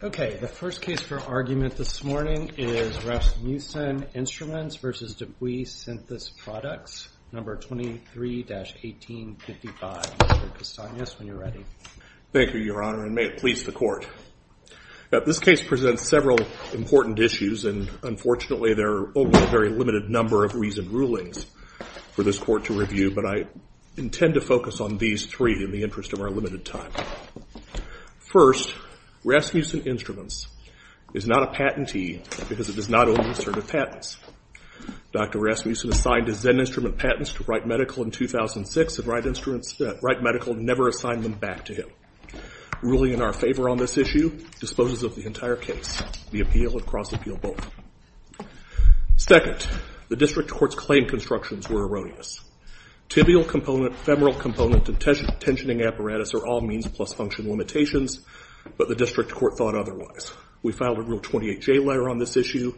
Okay, the first case for argument this morning is Rasmussen Instruments v. DePuy Synthes Products, No. 23-1855. Mr. Kastanis, when you're ready. Thank you, Your Honor, and may it please the Court. This case presents several important issues, and unfortunately there are only a very limited number of reasoned rulings for this Court to review, but I intend to focus on these three in the interest of our limited time. First, Rasmussen Instruments is not a patentee because it does not own the certain patents. Dr. Rasmussen assigned his then-instrument patents to Wright Medical in 2006, and Wright Medical never assigned them back to him. Ruling in our favor on this issue disposes of the entire case. The appeal would cross-appeal both. Second, the District Court's claim constructions were erroneous. Tibial component, femoral component, and tensioning apparatus are all means plus function limitations, but the District Court thought otherwise. We filed a Rule 28J letter on this issue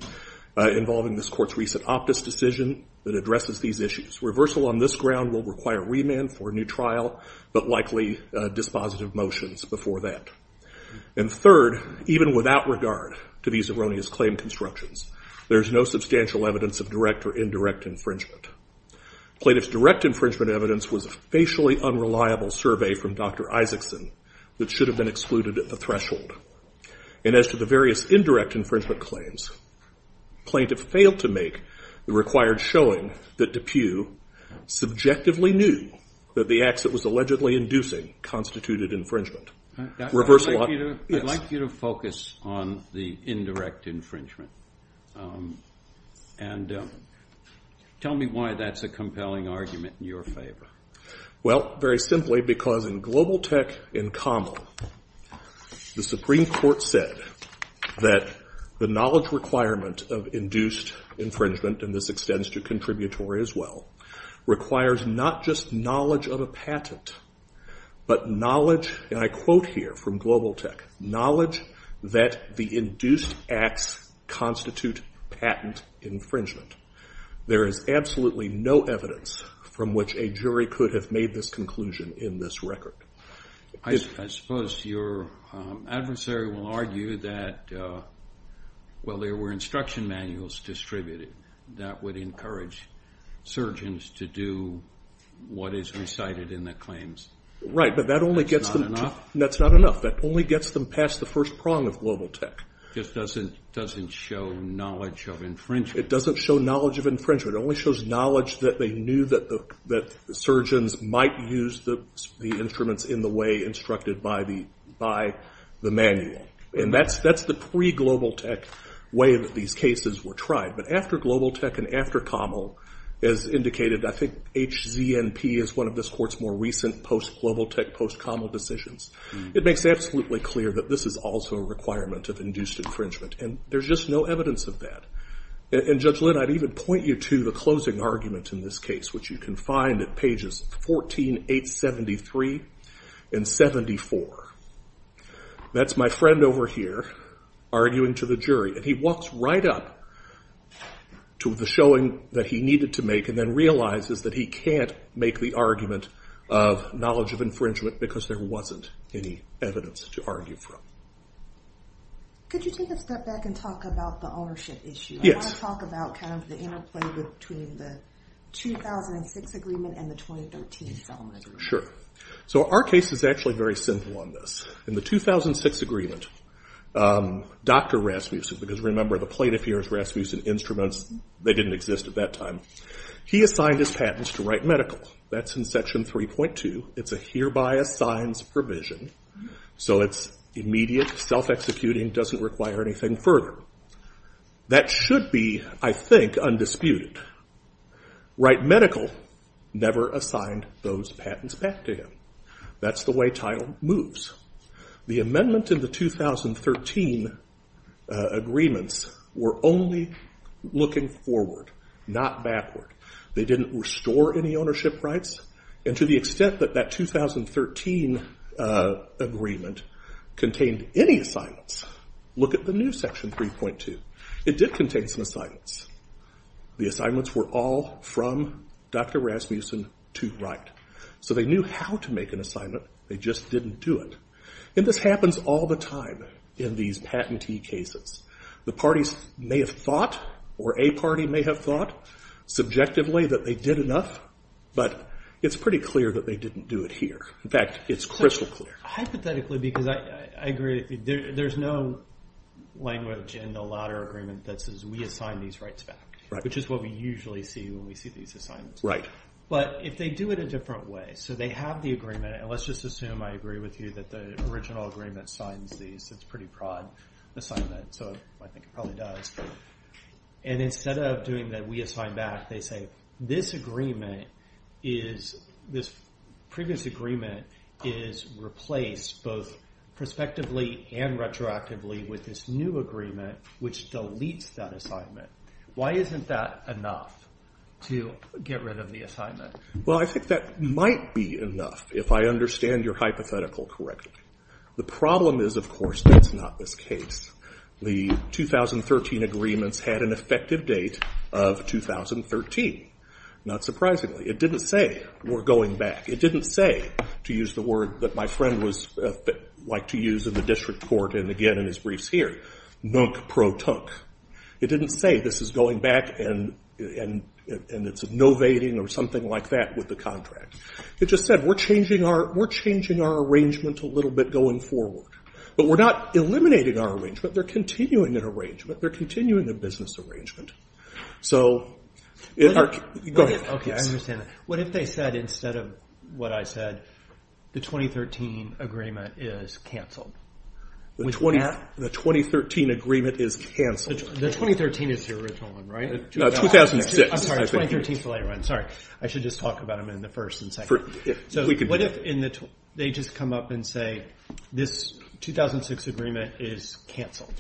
involving this Court's recent optus decision that addresses these issues. Reversal on this ground will require remand for a new trial, but likely dispositive motions before that. And third, even without regard to these erroneous claim constructions, there is no substantial evidence of direct or indirect infringement. Plaintiff's direct infringement evidence was a facially unreliable survey from Dr. Isaacson that should have been excluded at the threshold. And as to the various indirect infringement claims, plaintiff failed to make the required showing that DePue subjectively knew that the acts it was allegedly inducing constituted infringement. I'd like you to focus on the indirect infringement, and tell me why that's a compelling argument in your favor. Well, very simply, because in Global Tech in Common, the Supreme Court said that the knowledge requirement of induced infringement, and this extends to contributory as well, requires not just knowledge of a patent, but knowledge, and I quote here from Global Tech, knowledge that the induced acts constitute patent infringement. There is absolutely no evidence from which a jury could have made this conclusion in this record. I suppose your adversary will argue that, well, there were instruction manuals distributed that would encourage surgeons to do what is recited in the claims. Right, but that's not enough. That only gets them past the first prong of Global Tech. It just doesn't show knowledge of infringement. It doesn't show knowledge of infringement. It only shows knowledge that they knew that surgeons might use the instruments in the way instructed by the manual. And that's the pre-Global Tech way that these cases were tried. But after Global Tech and after Common, as indicated, I think HZNP is one of this Court's more recent post-Global Tech, post-Common decisions. It makes absolutely clear that this is also a requirement of induced infringement, and there's just no evidence of that. And Judge Lynn, I'd even point you to the closing argument in this case, which you can find at pages 14, 873 and 74. That's my friend over here arguing to the jury, and he walks right up to the showing that he needed to make and then realizes that he can't make the argument of knowledge of infringement because there wasn't any evidence to argue from. Could you take a step back and talk about the ownership issue? Yes. I want to talk about kind of the interplay between the 2006 agreement and the 2013 settlement agreement. Sure. So our case is actually very simple on this. In the 2006 agreement, Dr. Rasmussen, because remember the plaintiff here is Rasmussen Instruments. They didn't exist at that time. He assigned his patents to Wright Medical. That's in Section 3.2. It's a hereby assigned provision, so it's immediate, self-executing, doesn't require anything further. That should be, I think, undisputed. Wright Medical never assigned those patents back to him. That's the way title moves. The amendment in the 2013 agreements were only looking forward, not backward. They didn't restore any ownership rights. And to the extent that that 2013 agreement contained any assignments, look at the new Section 3.2. It did contain some assignments. The assignments were all from Dr. Rasmussen to Wright. So they knew how to make an assignment. They just didn't do it. And this happens all the time in these patentee cases. The parties may have thought or a party may have thought subjectively that they did enough, but it's pretty clear that they didn't do it here. In fact, it's crystal clear. Hypothetically, because I agree, there's no language in the latter agreement that says we assign these rights back, which is what we usually see when we see these assignments. But if they do it a different way, so they have the agreement, and let's just assume I agree with you that the original agreement signs these. It's a pretty broad assignment, so I think it probably does. And instead of doing that we assign back, they say this agreement is, this previous agreement is replaced both prospectively and retroactively with this new agreement, which deletes that assignment. Why isn't that enough to get rid of the assignment? Well, I think that might be enough if I understand your hypothetical correctly. The problem is, of course, that's not this case. The 2013 agreements had an effective date of 2013. Not surprisingly. It didn't say we're going back. It didn't say, to use the word that my friend liked to use in the district court and again in his briefs here, nunk protunk. It didn't say this is going back and it's novating or something like that with the contract. It just said we're changing our arrangement a little bit going forward. But we're not eliminating our arrangement. They're continuing that arrangement. They're continuing the business arrangement. So, go ahead. Okay, I understand that. What if they said instead of what I said, the 2013 agreement is canceled? The 2013 agreement is canceled. The 2013 is the original one, right? No, 2006. I'm sorry, 2013 is the later one. Sorry, I should just talk about them in the first and second. So what if they just come up and say this 2006 agreement is canceled?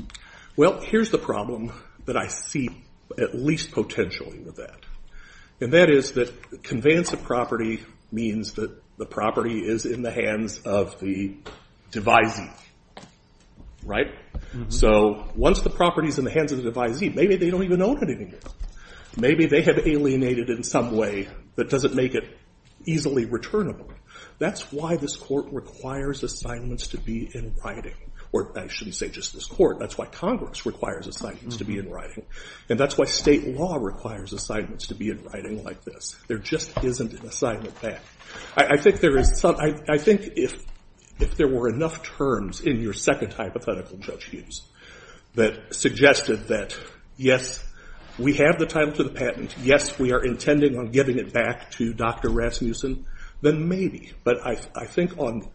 Well, here's the problem that I see at least potentially with that. And that is that conveyance of property means that the property is in the hands of the devisee, right? So once the property is in the hands of the devisee, maybe they don't even own it anymore. Maybe they have alienated it in some way that doesn't make it easily returnable. That's why this court requires assignments to be in writing. Or I shouldn't say just this court. That's why Congress requires assignments to be in writing. And that's why state law requires assignments to be in writing like this. There just isn't an assignment back. I think if there were enough terms in your second hypothetical, Judge Hughes, that suggested that yes, we have the title to the patent. Yes, we are intending on giving it back to Dr. Rasmussen. Then maybe. But I think on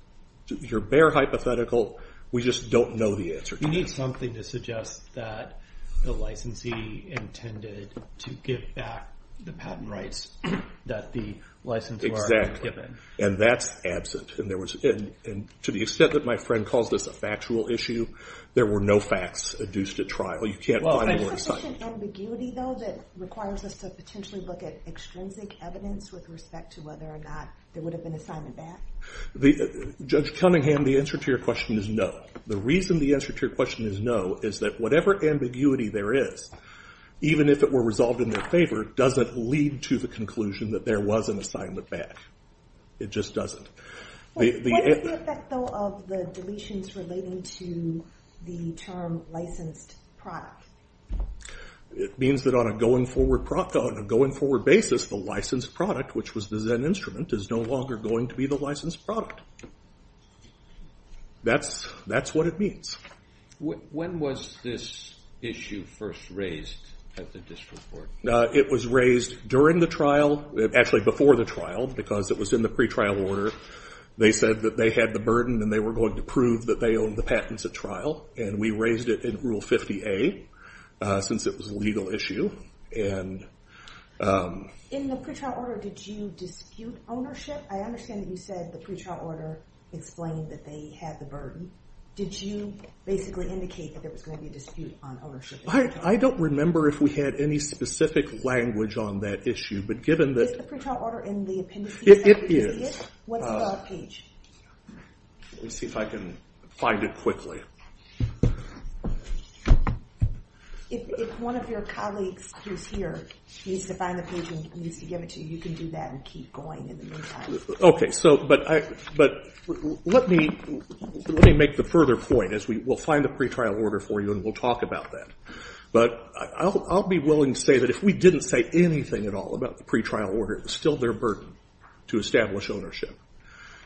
your bare hypothetical, we just don't know the answer to this. We need something to suggest that the licensee intended to give back the patent rights that the licensor had given. Exactly. And that's absent. And to the extent that my friend calls this a factual issue, there were no facts adduced at trial. You can't find an assignment. Well, is there such an ambiguity, though, that requires us to potentially look at extrinsic evidence with respect to whether or not there would have been assignment back? Judge Cunningham, the answer to your question is no. The reason the answer to your question is no is that whatever ambiguity there is, even if it were resolved in their favor, doesn't lead to the conclusion that there was an assignment back. It just doesn't. What is the effect, though, of the deletions relating to the term licensed product? It means that on a going forward basis, the licensed product, which was the Zen instrument, is no longer going to be the licensed product. That's what it means. When was this issue first raised at the district court? It was raised during the trial, actually before the trial, because it was in the pretrial order. They said that they had the burden and they were going to prove that they owned the patents at trial, and we raised it in Rule 50A since it was a legal issue. In the pretrial order, did you dispute ownership? I understand that you said the pretrial order explained that they had the burden. Did you basically indicate that there was going to be a dispute on ownership? I don't remember if we had any specific language on that issue. Is the pretrial order in the appendices? It is. What's the page? Let me see if I can find it quickly. If one of your colleagues who's here needs to find the page and needs to give it to you, you can do that and keep going in the meantime. Let me make the further point. We'll find the pretrial order for you and we'll talk about that. I'll be willing to say that if we didn't say anything at all about the pretrial order, it's still their burden to establish ownership.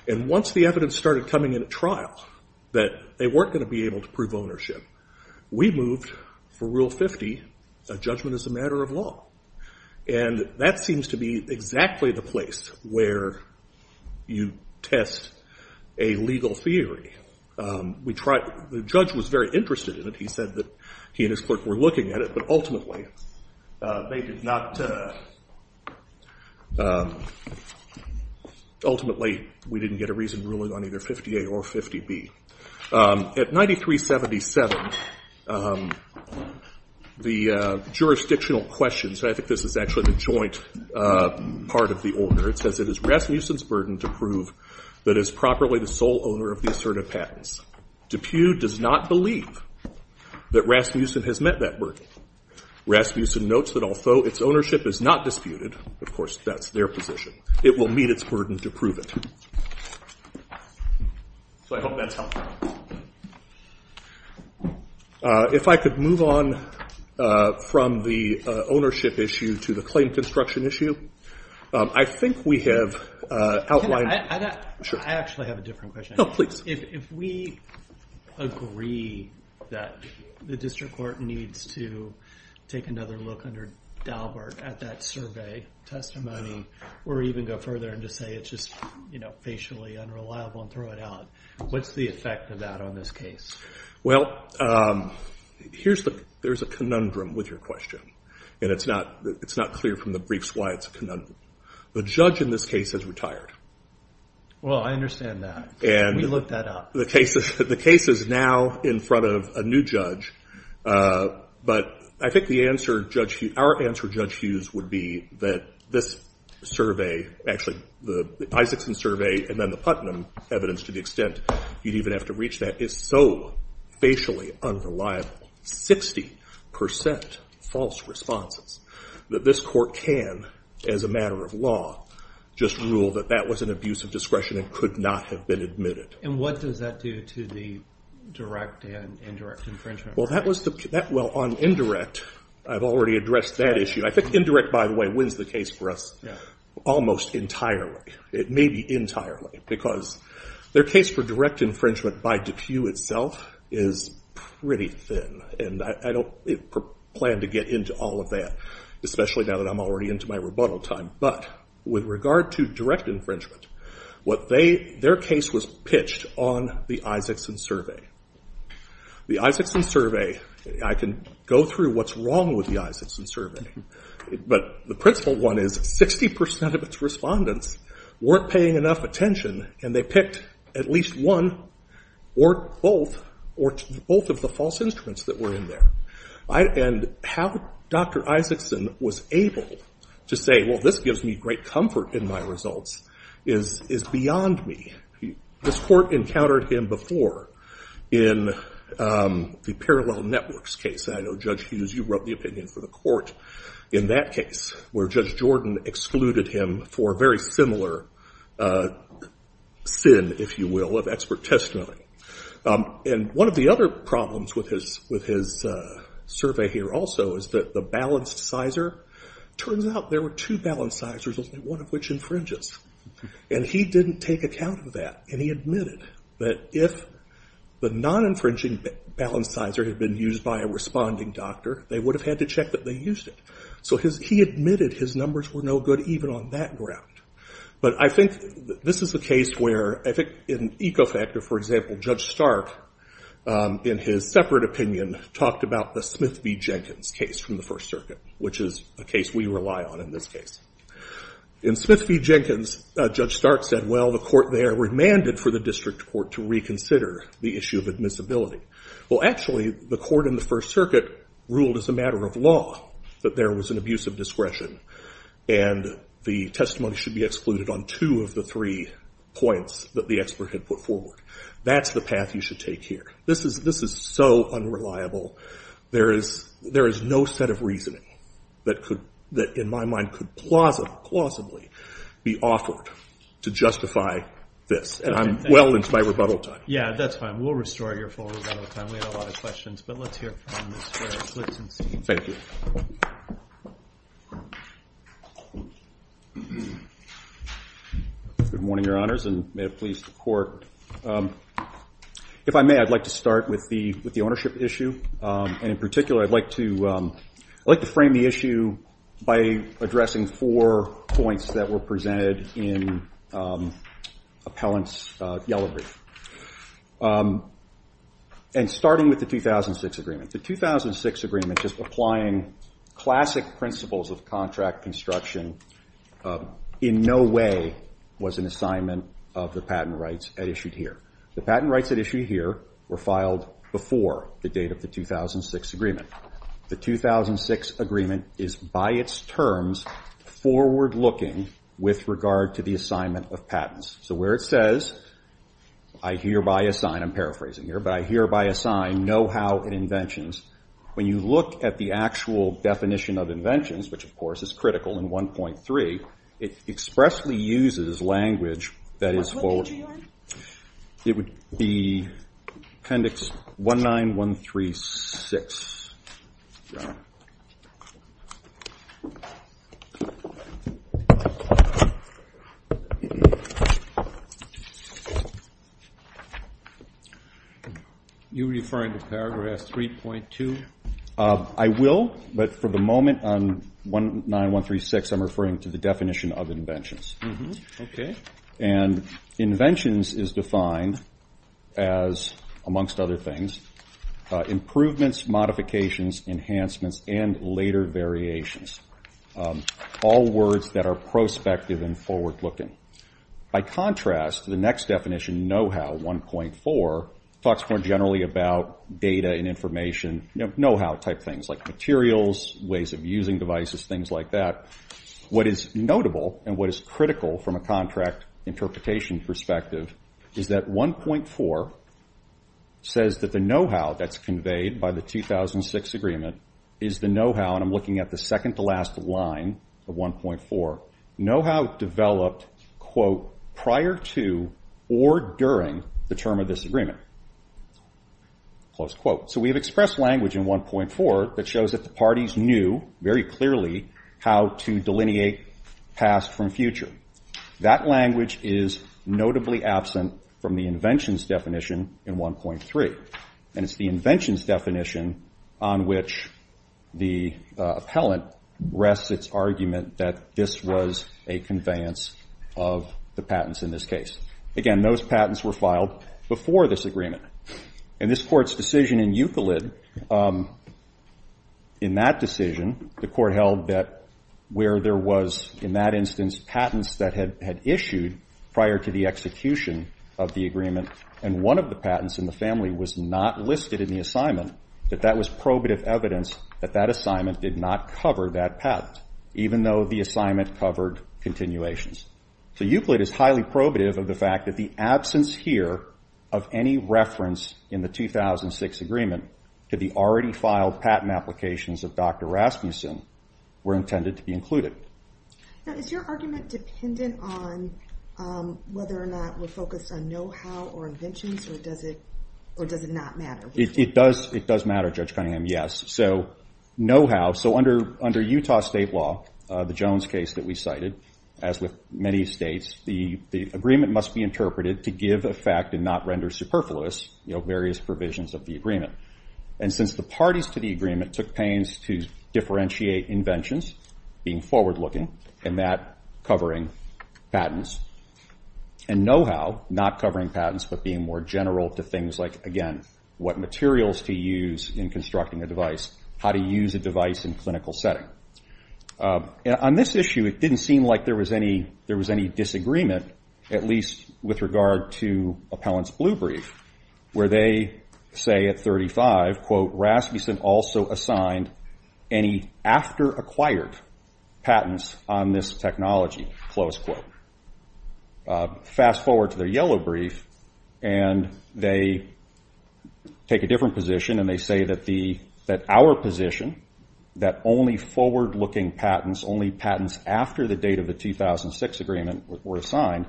Once the evidence started coming in at trial that they weren't going to be able to prove ownership, we moved, for Rule 50, a judgment as a matter of law. That seems to be exactly the place where you test a legal theory. The judge was very interested in it. He said that he and his clerk were looking at it, but ultimately they did not. Ultimately, we didn't get a reason ruling on either 50A or 50B. At 9377, the jurisdictional question, so I think this is actually the joint part of the order, it says it is Rasmussen's burden to prove that it is properly the sole owner of the assertive patents. Dupuy does not believe that Rasmussen has met that burden. Rasmussen notes that although its ownership is not disputed, of course that's their position, it will meet its burden to prove it. So I hope that's helpful. If I could move on from the ownership issue to the claim construction issue, I think we have outlined... I actually have a different question. Oh, please. If we agree that the district court needs to take another look under Dahlberg at that survey testimony, or even go further and just say it's just facially unreliable and throw it out, what's the effect of that on this case? Well, there's a conundrum with your question, and it's not clear from the briefs why it's a conundrum. The judge in this case has retired. Well, I understand that. We looked that up. The case is now in front of a new judge, but I think our answer, Judge Hughes, would be that this survey, actually the Isakson survey and then the Putnam evidence to the extent you'd even have to reach that, is so facially unreliable, 60% false responses, that this court can, as a matter of law, just rule that that was an abuse of discretion and could not have been admitted. And what does that do to the direct and indirect infringement? Well, on indirect, I've already addressed that issue. I think indirect, by the way, wins the case for us almost entirely. It may be entirely, because their case for direct infringement by DePue itself is pretty thin, and I don't plan to get into all of that, especially now that I'm already into my rebuttal time. But with regard to direct infringement, their case was pitched on the Isakson survey. The Isakson survey, I can go through what's wrong with the Isakson survey, but the principle one is 60% of its respondents weren't paying enough attention, and they picked at least one or both of the false instruments that were in there. And how Dr. Isakson was able to say, well, this gives me great comfort in my results, is beyond me. This court encountered him before in the Parallel Networks case. I know, Judge Hughes, you wrote the opinion for the court in that case, where Judge Jordan excluded him for a very similar sin, if you will, of expert testimony. And one of the other problems with his survey here also is that the balancizer, it turns out there were two balancizers, only one of which infringes. And he didn't take account of that, and he admitted that if the non-infringing balancizer had been used by a responding doctor, they would have had to check that they used it. So he admitted his numbers were no good even on that ground. But I think this is a case where, I think, in Ecofactor, for example, Judge Stark, in his separate opinion, talked about the Smith v. Jenkins case from the First Circuit, which is a case we rely on in this case. In Smith v. Jenkins, Judge Stark said, well, the court there remanded for the district court to reconsider the issue of admissibility. Well, actually, the court in the First Circuit ruled as a matter of law that there was an abuse of discretion, and the testimony should be excluded on two of the three points that the expert had put forward. That's the path you should take here. This is so unreliable. There is no set of reasoning that, in my mind, could plausibly be offered to justify this. And I'm well into my rebuttal time. Yeah, that's fine. We'll restore your full rebuttal time. We had a lot of questions, but let's hear from Mr. Blitzenstein. Thank you. Good morning, Your Honors, and may it please the Court. If I may, I'd like to start with the ownership issue. And in particular, I'd like to frame the issue by addressing four points that were presented in Appellant's yellow brief. And starting with the 2006 agreement. The 2006 agreement just applying classic principles of contract construction in no way was an assignment of the patent rights at issue here. The patent rights at issue here were filed before the date of the 2006 agreement. The 2006 agreement is by its terms forward-looking with regard to the assignment of patents. So where it says, I hereby assign, I'm paraphrasing here, but I hereby assign know-how in inventions. When you look at the actual definition of inventions, which of course is critical in 1.3, it expressly uses language that is forward- What page are you on? It would be Appendix 19136. Are you referring to Paragraph 3.2? I will, but for the moment on 19136, I'm referring to the definition of inventions. Okay. And inventions is defined as, amongst other things, improvements, modifications, enhancements, and later variations. All words that are prospective and forward-looking. By contrast, the next definition, know-how 1.4, talks more generally about data and information, know-how type things, like materials, ways of using devices, things like that. What is notable and what is critical from a contract interpretation perspective is that 1.4 says that the know-how that's conveyed by the 2006 agreement is the know-how, and I'm looking at the second-to-last line of 1.4, know-how developed, quote, prior to or during the term of this agreement. Close quote. So we have expressed language in 1.4 that shows that the parties knew very clearly how to delineate past from future. That language is notably absent from the inventions definition in 1.3, and it's the inventions definition on which the appellant rests its argument that this was a conveyance of the patents in this case. Again, those patents were filed before this agreement. In this Court's decision in Euclid, in that decision, the Court held that where there was, in that instance, patents that had issued prior to the execution of the agreement and one of the patents in the family was not listed in the assignment, that that was probative evidence that that assignment did not cover that patent, even though the assignment covered continuations. So Euclid is highly probative of the fact that the absence here of any reference in the 2006 agreement to the already filed patent applications of Dr. Rasmussen were intended to be included. Now, is your argument dependent on whether or not we're focused on know-how or inventions, or does it not matter? It does matter, Judge Cunningham, yes. So know-how, so under Utah state law, the Jones case that we cited, as with many states, the agreement must be interpreted to give a fact and not render superfluous various provisions of the agreement. And since the parties to the agreement took pains to differentiate inventions, being forward-looking, and that covering patents, and know-how not covering patents but being more general to things like, again, what materials to use in constructing a device, how to use a device in a clinical setting. On this issue, it didn't seem like there was any disagreement, at least with regard to Appellant's blue brief, where they say at 35, quote, Rasmussen also assigned any after-acquired patents on this technology, close quote. Fast forward to their yellow brief, and they take a different position, and they say that our position, that only forward-looking patents, only patents after the date of the 2006 agreement were assigned,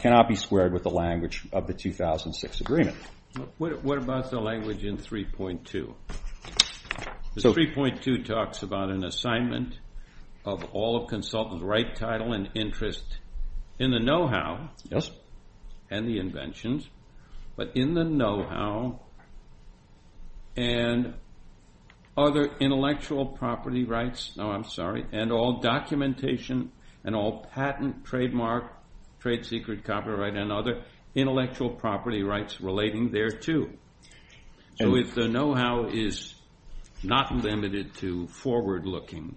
cannot be squared with the language of the 2006 agreement. What about the language in 3.2? 3.2 talks about an assignment of all consultants, with right title and interest in the know-how and the inventions, but in the know-how and other intellectual property rights, and all documentation and all patent, trademark, trade secret, copyright, and other intellectual property rights relating thereto. So if the know-how is not limited to forward-looking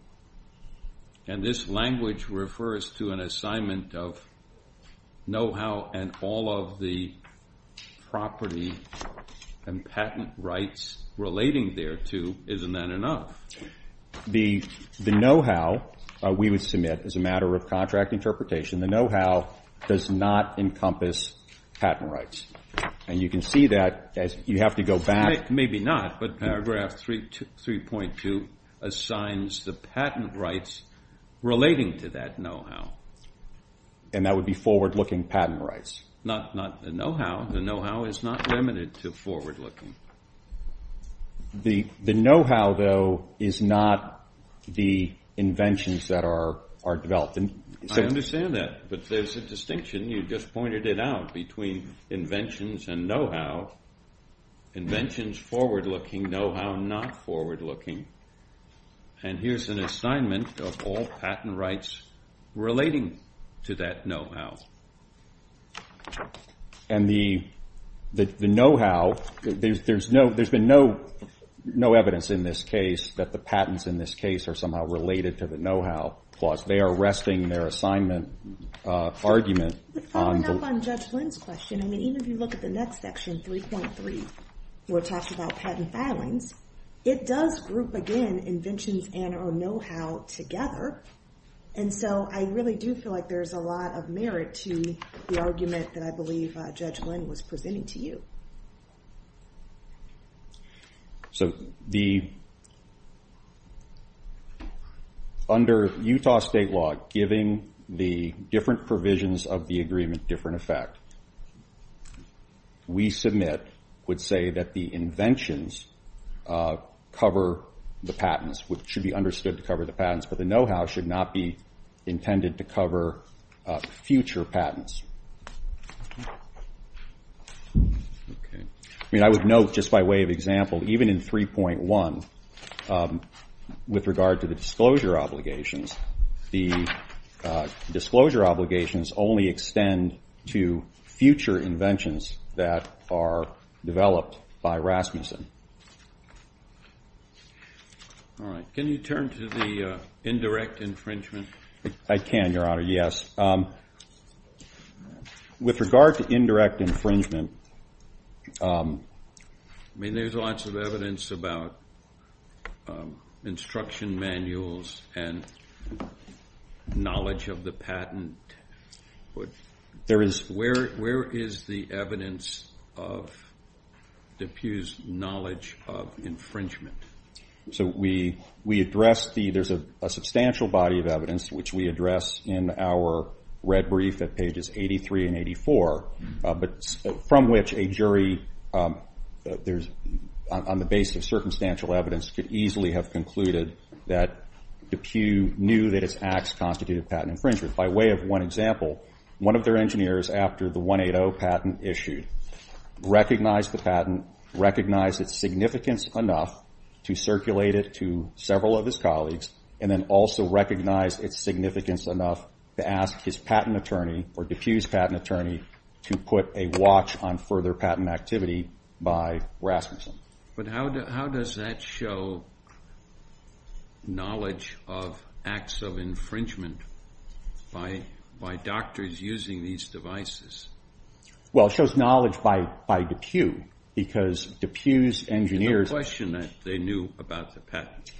and this language refers to an assignment of know-how and all of the property and patent rights relating thereto, isn't that enough? The know-how, we would submit as a matter of contract interpretation, the know-how does not encompass patent rights, and you can see that as you have to go back. Maybe not, but paragraph 3.2 assigns the patent rights relating to that know-how. And that would be forward-looking patent rights. Not the know-how. The know-how is not limited to forward-looking. The know-how, though, is not the inventions that are developed. I understand that, but there's a distinction. You just pointed it out between inventions and know-how. Inventions forward-looking, know-how not forward-looking. And here's an assignment of all patent rights relating to that know-how. And the know-how, there's been no evidence in this case that the patents in this case are somehow related to the know-how, plus they are arresting their assignment argument. To follow up on Judge Lynn's question, even if you look at the next section, 3.3, where it talks about patent filings, it does group, again, inventions and or know-how together. And so I really do feel like there's a lot of merit to the argument that I believe Judge Lynn was presenting to you. So under Utah state law, giving the different provisions of the agreement different effect, we submit, would say that the inventions cover the patents, which should be understood to cover the patents, but the know-how should not be intended to cover future patents. I mean, I would note, just by way of example, even in 3.1, with regard to the disclosure obligations, the disclosure obligations only extend to future inventions that are developed by Rasmussen. All right. Can you turn to the indirect infringement? I can, Your Honor, yes. With regard to indirect infringement... I mean, there's lots of evidence about instruction manuals and knowledge of the patent. Where is the evidence of DePuy's knowledge of infringement? So we address the... There's a substantial body of evidence, which we address in our red brief at pages 83 and 84, from which a jury, on the basis of circumstantial evidence, could easily have concluded that DePuy knew that his acts constituted patent infringement. By way of one example, one of their engineers, after the 180 patent issued, recognized the patent, recognized its significance enough to circulate it to several of his colleagues, and then also recognized its significance enough to ask his patent attorney, or DePuy's patent attorney, to put a watch on further patent activity by Rasmussen. But how does that show knowledge of acts of infringement by doctors using these devices? Well, it shows knowledge by DePuy, because DePuy's engineers... There's a question that they knew about the patent.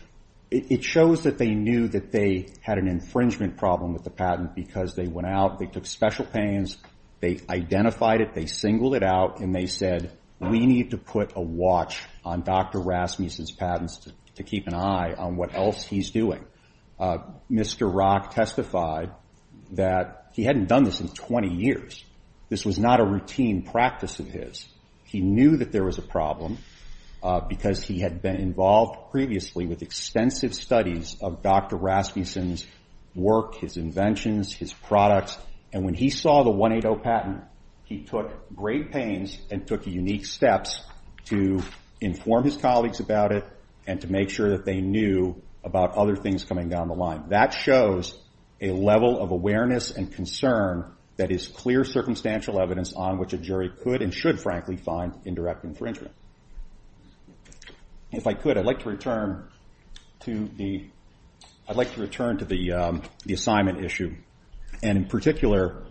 It shows that they knew that they had an infringement problem with the patent because they went out, they took special panes, they identified it, they singled it out, and they said, we need to put a watch on Dr. Rasmussen's patents to keep an eye on what else he's doing. Mr. Rock testified that he hadn't done this in 20 years. This was not a routine practice of his. He knew that there was a problem because he had been involved previously with extensive studies of Dr. Rasmussen's work, his inventions, his products, and when he saw the 180 patent, he took great panes and took unique steps to inform his colleagues about it and to make sure that they knew about other things coming down the line. That shows a level of awareness and concern that is clear circumstantial evidence on which a jury could and should, frankly, find indirect infringement. If I could, I'd like to return to the assignment issue and, in particular,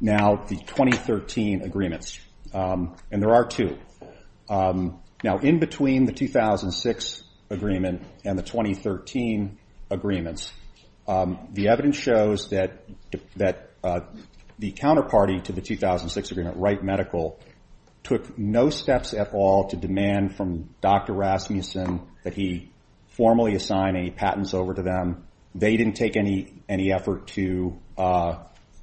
now the 2013 agreements. And there are two. Now, in between the 2006 agreement and the 2013 agreements, the evidence shows that the counterparty to the 2006 agreement, Wright Medical, took no steps at all to demand from Dr. Rasmussen that he formally assign any patents over to them. They didn't take any effort to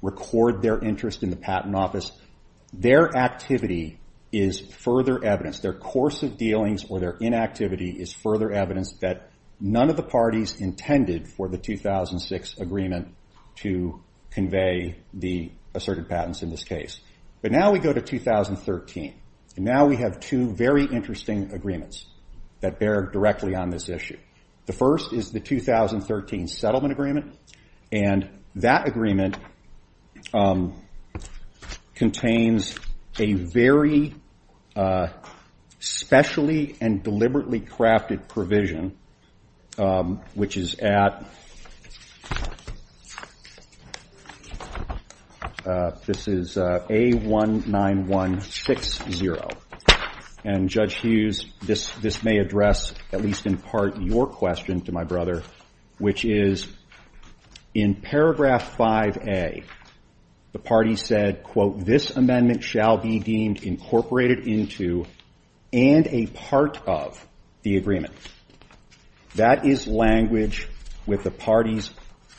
record their interest in the patent office. Their activity is further evidence, their course of dealings or their inactivity is further evidence that none of the parties intended for the 2006 agreement to convey the asserted patents in this case. But now we go to 2013, and now we have two very interesting agreements that bear directly on this issue. The first is the 2013 settlement agreement, and that agreement contains a very specially and deliberately crafted provision, which is at, this is A19160. And Judge Hughes, this may address, at least in part, your question to my brother, which is in paragraph 5A, the parties said, quote, this amendment shall be deemed incorporated into and a part of the agreement. That is language with the parties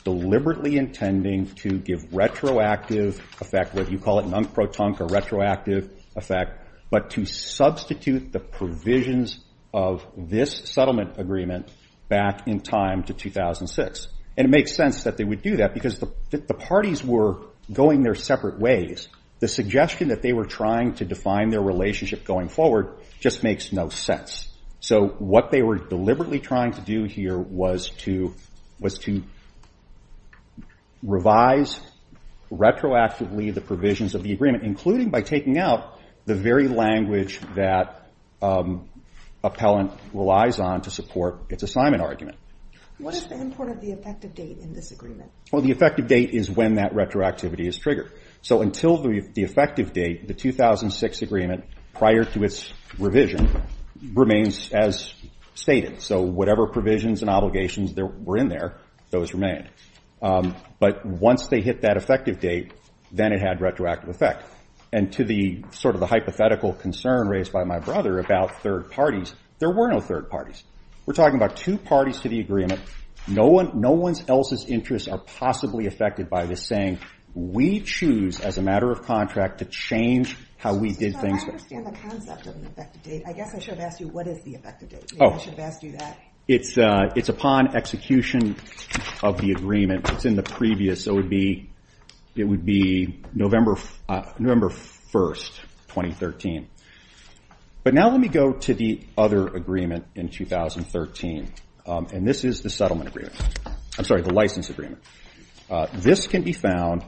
deliberately intending to give retroactive effect, what you call it, non-protonical retroactive effect, but to substitute the provisions of this settlement agreement back in time to 2006. And it makes sense that they would do that because the parties were going their separate ways. The suggestion that they were trying to define their relationship going forward just makes no sense. So what they were deliberately trying to do here was to revise retroactively the provisions of the agreement, including by taking out the very language that appellant relies on to support its assignment argument. What is the import of the effective date in this agreement? Well, the effective date is when that retroactivity is triggered. So until the effective date, the 2006 agreement, prior to its revision, remains as stated. So whatever provisions and obligations were in there, those remained. But once they hit that effective date, then it had retroactive effect. And to the sort of the hypothetical concern raised by my brother about third parties, there were no third parties. We're talking about two parties to the agreement. No one's else's interests are possibly affected by this saying we choose, as a matter of contract, to change how we did things. I understand the concept of an effective date. I guess I should have asked you what is the effective date. Maybe I should have asked you that. It's upon execution of the agreement. It's in the previous. It would be November 1, 2013. But now let me go to the other agreement in 2013. And this is the settlement agreement. I'm sorry, the license agreement. This can be found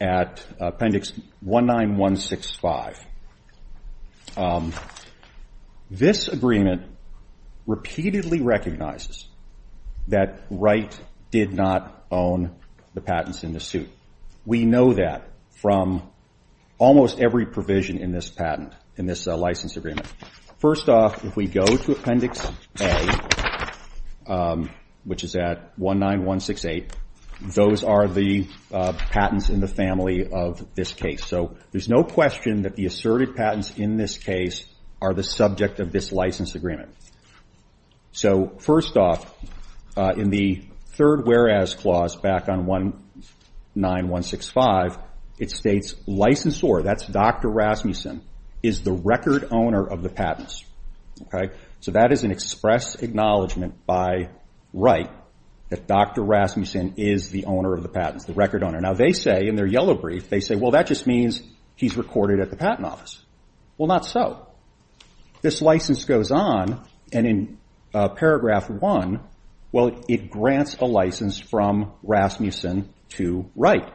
at Appendix 19165. This agreement repeatedly recognizes that Wright did not own the patents in the suit. We know that from almost every provision in this patent, in this license agreement. First off, if we go to Appendix A, which is at 19168, those are the patents in the family of this case. So there's no question that the asserted patents in this case are the subject of this license agreement. So first off, in the third whereas clause, back on 19165, it states, Licensor, that's Dr. Rasmussen, is the record owner of the patents. So that is an express acknowledgment by Wright that Dr. Rasmussen is the owner of the patents, the record owner. Now they say in their yellow brief, they say, well, that just means he's recorded at the patent office. Well, not so. This license goes on, and in paragraph 1, well, it grants a license from Rasmussen to Wright.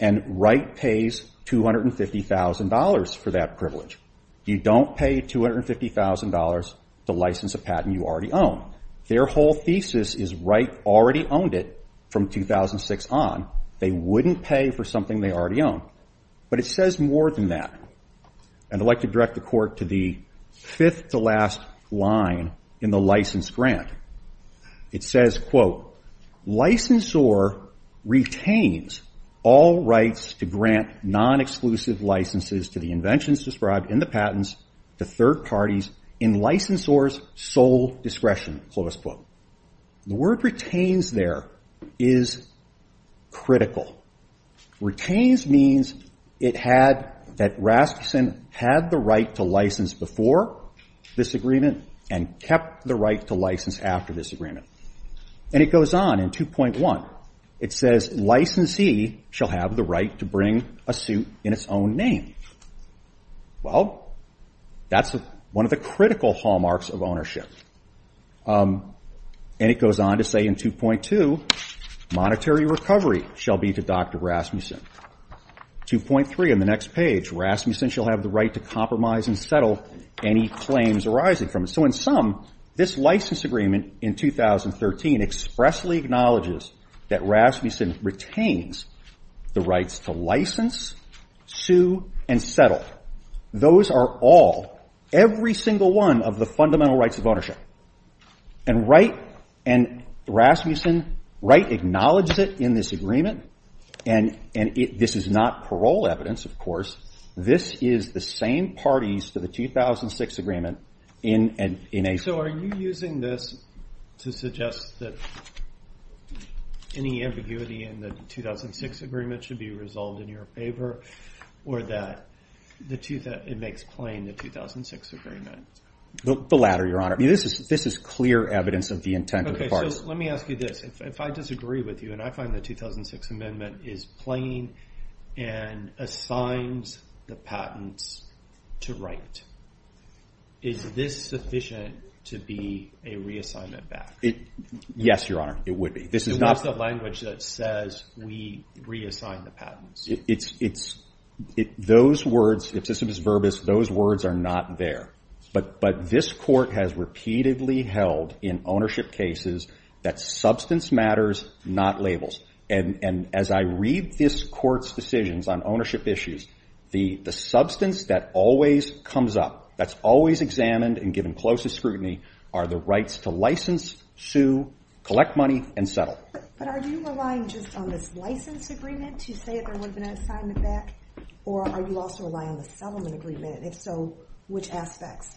And Wright pays $250,000 for that privilege. You don't pay $250,000 to license a patent you already own. Their whole thesis is Wright already owned it from 2006 on. They wouldn't pay for something they already own. But it says more than that, and I'd like to direct the Court to the fifth to last line in the license grant. It says, quote, Licensor retains all rights to grant non-exclusive licenses to the inventions described in the patents to third parties in licensor's sole discretion, close quote. The word retains there is critical. Retains means it had, that Rasmussen had the right to license before this agreement and kept the right to license after this agreement. And it goes on in 2.1. It says, Licensee shall have the right to bring a suit in its own name. Well, that's one of the critical hallmarks of ownership. And it goes on to say in 2.2, Monetary recovery shall be to Dr. Rasmussen. 2.3 on the next page, Rasmussen shall have the right to compromise and settle any claims arising from it. So in sum, this license agreement in 2013 expressly acknowledges that Rasmussen retains the rights to license, sue, and settle. Those are all, every single one of the fundamental rights of ownership. And Wright and Rasmussen, Wright acknowledges it in this agreement. And this is not parole evidence, of course. This is the same parties to the 2006 agreement in a- So are you using this to suggest that any ambiguity in the 2006 agreement should be resolved in your favor or that it makes plain the 2006 agreement? The latter, Your Honor. This is clear evidence of the intent of the parties. Okay, so let me ask you this. If I disagree with you and I find the 2006 amendment is plain and assigns the patents to Wright, is this sufficient to be a reassignment back? Yes, Your Honor, it would be. This is not- So what's the language that says we reassign the patents? It's- those words, if this is verbose, those words are not there. But this court has repeatedly held in ownership cases that substance matters, not labels. And as I read this court's decisions on ownership issues, the substance that always comes up, that's always examined and given closest scrutiny, are the rights to license, sue, collect money, and settle. But are you relying just on this license agreement to say there would have been an assignment back? Or are you also relying on the settlement agreement? And if so, which aspects?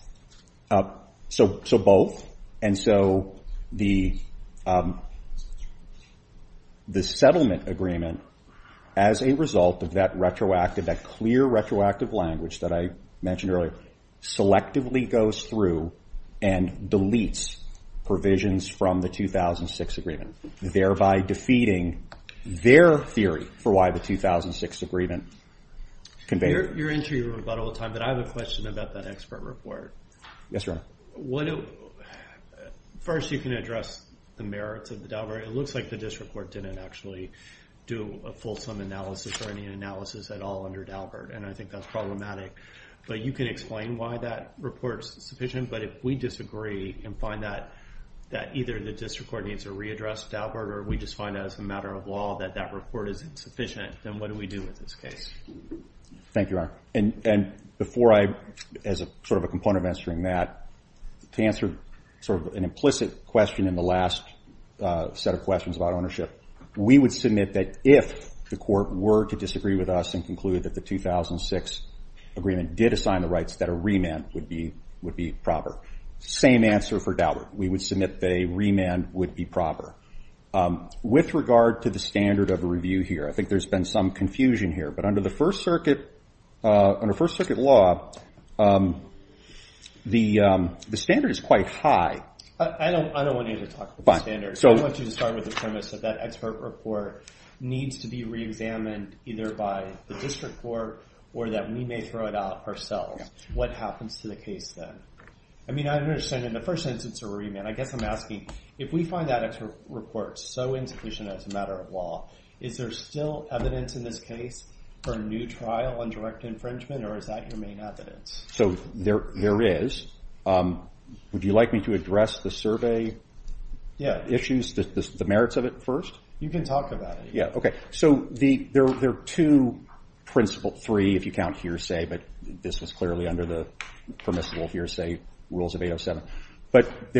So both. And so the settlement agreement, as a result of that clear retroactive language that I mentioned earlier, selectively goes through and deletes provisions from the 2006 agreement, thereby defeating their theory for why the 2006 agreement- You're into your rebuttal time, but I have a question about that expert report. Yes, Your Honor. First, you can address the merits of the Daubert. It looks like the district court didn't actually do a fulsome analysis or any analysis at all under Daubert, and I think that's problematic. But you can explain why that report's sufficient. But if we disagree and find that either the district court needs to readdress Daubert or we just find that as a matter of law that that report is insufficient, then what do we do with this case? Thank you, Your Honor. And before I, as sort of a component of answering that, to answer sort of an implicit question in the last set of questions about ownership, we would submit that if the court were to disagree with us and conclude that the 2006 agreement did assign the rights, that a remand would be proper. Same answer for Daubert. We would submit that a remand would be proper. With regard to the standard of review here, I think there's been some confusion here, but under First Circuit law, the standard is quite high. I don't want you to talk about the standard. I want you to start with the premise that that expert report needs to be reexamined either by the district court or that we may throw it out ourselves. What happens to the case then? I mean, I understand in the first instance a remand. I guess I'm asking, if we find that expert report so insufficient as a matter of law, is there still evidence in this case for a new trial on direct infringement, or is that your main evidence? So there is. Would you like me to address the survey issues, the merits of it first? You can talk about it. Yeah, okay. So there are two principles, three if you count hearsay, but this was clearly under the permissible hearsay rules of 807. But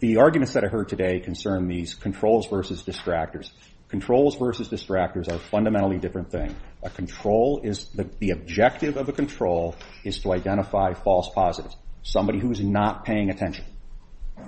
the arguments that I heard today concern these controls versus distractors. Controls versus distractors are a fundamentally different thing. A control is the objective of a control is to identify false positives, somebody who is not paying attention.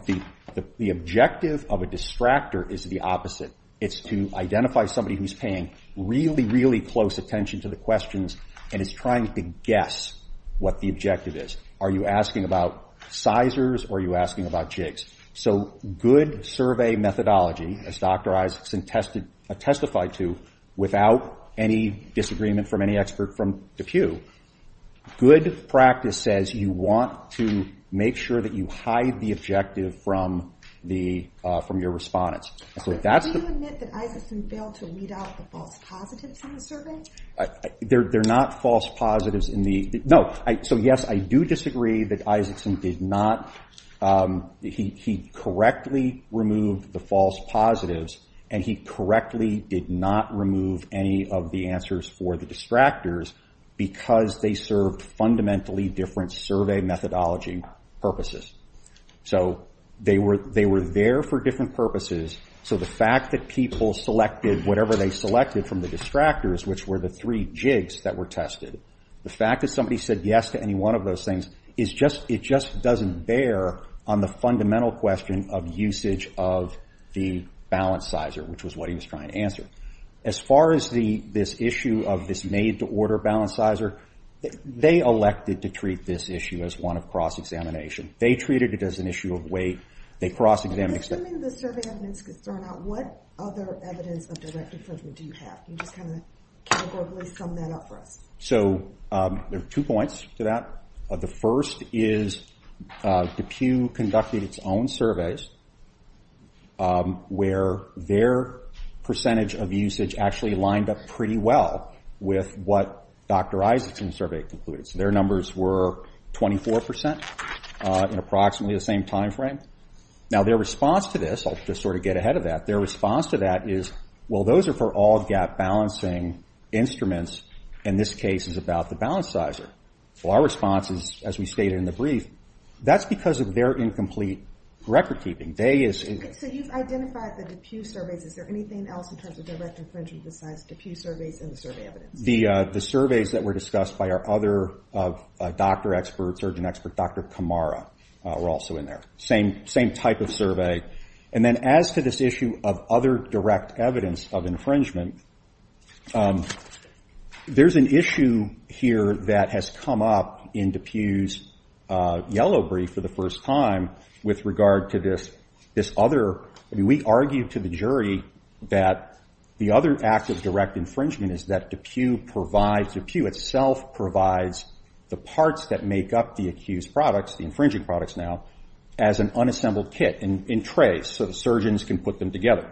The objective of a distractor is the opposite. It's to identify somebody who's paying really, really close attention to the questions and is trying to guess what the objective is. Are you asking about sizers or are you asking about jigs? So good survey methodology, as Dr. Isaacson testified to, without any disagreement from any expert from DePue, good practice says you want to make sure that you hide the objective from your respondents. Do you admit that Isaacson failed to weed out the false positives in the survey? They're not false positives in the... No. So yes, I do disagree that Isaacson did not... He correctly removed the false positives and he correctly did not remove any of the answers for the distractors because they served fundamentally different survey methodology purposes. So they were there for different purposes, so the fact that people selected whatever they selected from the distractors, which were the three jigs that were tested, the fact that somebody said yes to any one of those things, it just doesn't bear on the fundamental question of usage of the balance sizer, which was what he was trying to answer. As far as this issue of this made-to-order balance sizer, they elected to treat this issue as one of cross-examination. They treated it as an issue of weight. They cross-examined... Assuming the survey evidence could turn out, what other evidence of direct infringement do you have? Can you just kind of categorically sum that up for us? So there are two points to that. The first is DePue conducted its own surveys where their percentage of usage actually lined up pretty well with what Dr. Isaacson's survey concluded. So their numbers were 24% in approximately the same time frame. Now their response to this... I'll just sort of get ahead of that. Their response to that is, well, those are for all gap-balancing instruments, and this case is about the balance sizer. Well, our response is, as we stated in the brief, that's because of their incomplete record-keeping. So you've identified the DePue surveys. Is there anything else in terms of direct infringement besides DePue surveys and the survey evidence? The surveys that were discussed by our other doctor expert, surgeon expert, Dr. Kamara, were also in there. Same type of survey. And then as to this issue of other direct evidence of infringement, there's an issue here that has come up in DePue's yellow brief for the first time with regard to this other... I mean, we argued to the jury that the other act of direct infringement is that DePue provides... DePue itself provides the parts that make up the accused products, the infringing products now, as an unassembled kit in trays so the surgeons can put them together.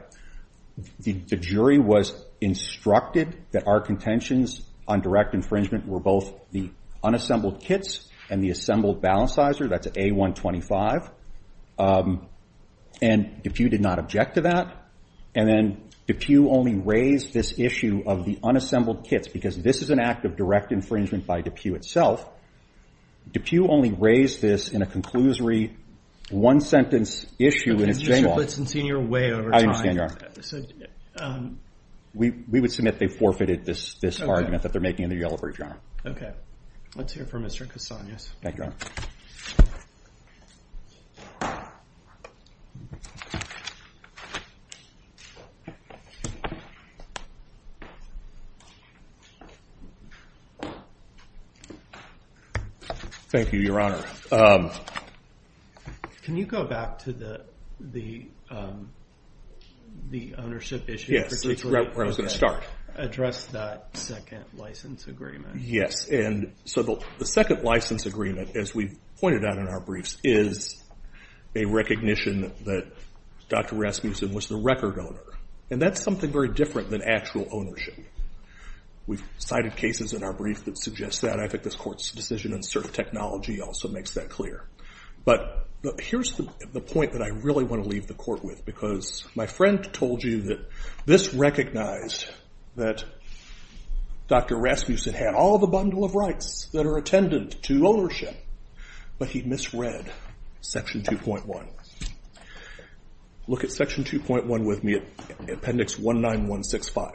But the jury was instructed that our contentions on direct infringement were both the unassembled kits and the assembled balancizer. That's A125. And DePue did not object to that. And then DePue only raised this issue of the unassembled kits because this is an act of direct infringement by DePue itself. DePue only raised this in a conclusory one-sentence issue... But since you're way over time... We would submit they forfeited this argument that they're making in their yellow brief, Your Honor. Okay. Let's hear from Mr. Casanas. Thank you, Your Honor. Thank you, Your Honor. Can you go back to the ownership issue? Yes. It's right where I was going to start. Address that second license agreement. Yes. And so the second license agreement, as we've pointed out in our briefs, is a recognition that Dr. Rasmussen was the record owner. And that's something very different than actual ownership. We've cited cases in our brief that suggest that. And I think this Court's decision in certain technology also makes that clear. But here's the point that I really want to leave the Court with, because my friend told you that this recognized that Dr. Rasmussen had all the bundle of rights that are attendant to ownership, but he misread Section 2.1. Look at Section 2.1 with me, Appendix 19165.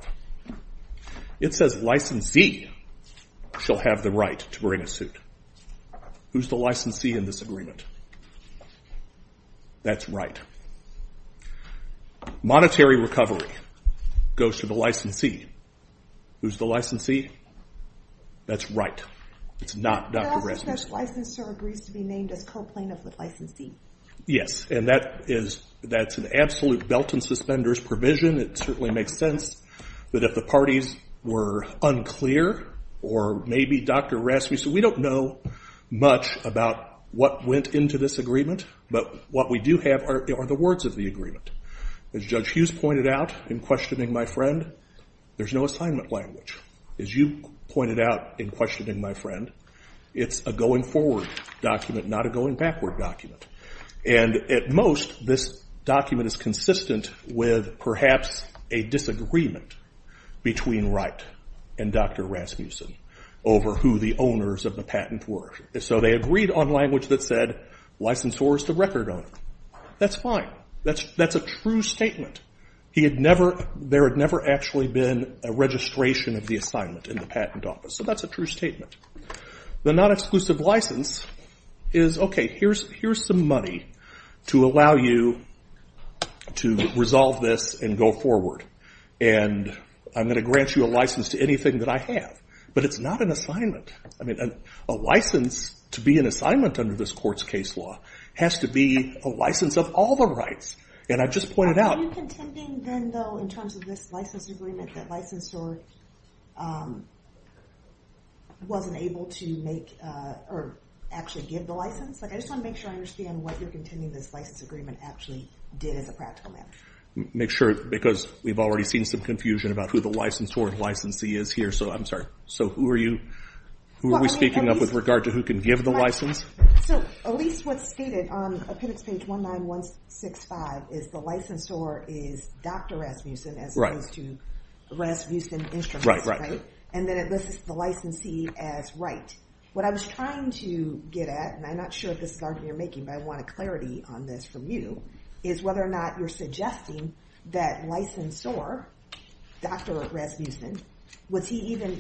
It says, Licensee shall have the right to bring a suit. Who's the licensee in this agreement? That's right. Monetary recovery goes to the licensee. Who's the licensee? That's right. It's not Dr. Rasmussen. The licensor agrees to be named as co-plaintiff with licensee. Yes, and that's an absolute belt and suspenders provision. It certainly makes sense that if the parties were unclear or maybe Dr. Rasmussen said, we don't know much about what went into this agreement, but what we do have are the words of the agreement. As Judge Hughes pointed out in questioning my friend, there's no assignment language. As you pointed out in questioning my friend, it's a going forward document, not a going backward document. And at most, this document is consistent with perhaps a disagreement between Wright and Dr. Rasmussen over who the owners of the patent were. So they agreed on language that said, licensor is the record owner. That's fine. That's a true statement. There had never actually been a registration of the assignment in the patent office, so that's a true statement. The non-exclusive license is, OK, here's some money to allow you to resolve this and go forward, and I'm going to grant you a license to anything that I have. But it's not an assignment. A license to be an assignment under this court's case law has to be a license of all the rights. And I just pointed out- Are you contending then, though, in terms of this license agreement, that licensor wasn't able to make or actually give the license? I just want to make sure I understand what you're contending this license agreement actually did as a practical matter. Make sure, because we've already seen some confusion about who the licensor and licensee is here, so I'm sorry. So who are we speaking up with regard to who can give the license? So at least what's stated on appendix page 19165 is the licensor is Dr. Rasmussen as opposed to Rasmussen Instruments, right? Right, right. And then it lists the licensee as Wright. What I was trying to get at, and I'm not sure if this is argument you're making, but I want a clarity on this from you, is whether or not you're suggesting that licensor, Dr. Rasmussen, was he even-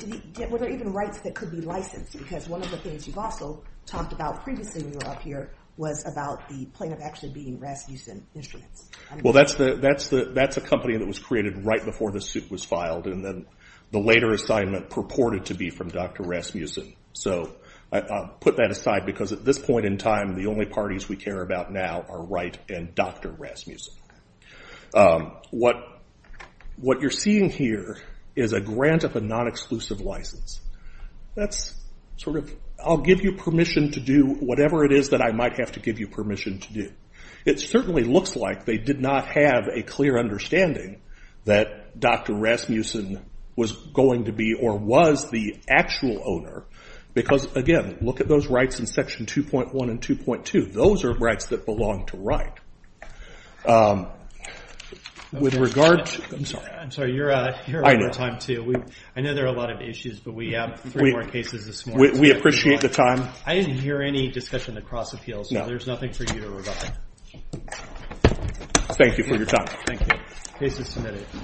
were there even rights that could be licensed? Because one of the things you've also talked about previously when you were up here was about the plaintiff actually being Rasmussen Instruments. Well, that's a company that was created right before the suit was filed and then the later assignment purported to be from Dr. Rasmussen. So I'll put that aside because at this point in time, the only parties we care about now are Wright and Dr. Rasmussen. What you're seeing here is a grant of a non-exclusive license. That's sort of, I'll give you permission to do whatever it is that I might have to give you permission to do. It certainly looks like they did not have a clear understanding that Dr. Rasmussen was going to be or was the actual owner. Because again, look at those rights in section 2.1 and 2.2. Those are rights that belong to Wright. With regard to- I'm sorry, you're out of time too. I know there are a lot of issues, but we have three more cases this morning. We appreciate the time. I didn't hear any discussion of cross-appeals, so there's nothing for you to rebut. Thank you for your time. Thank you. Case is submitted.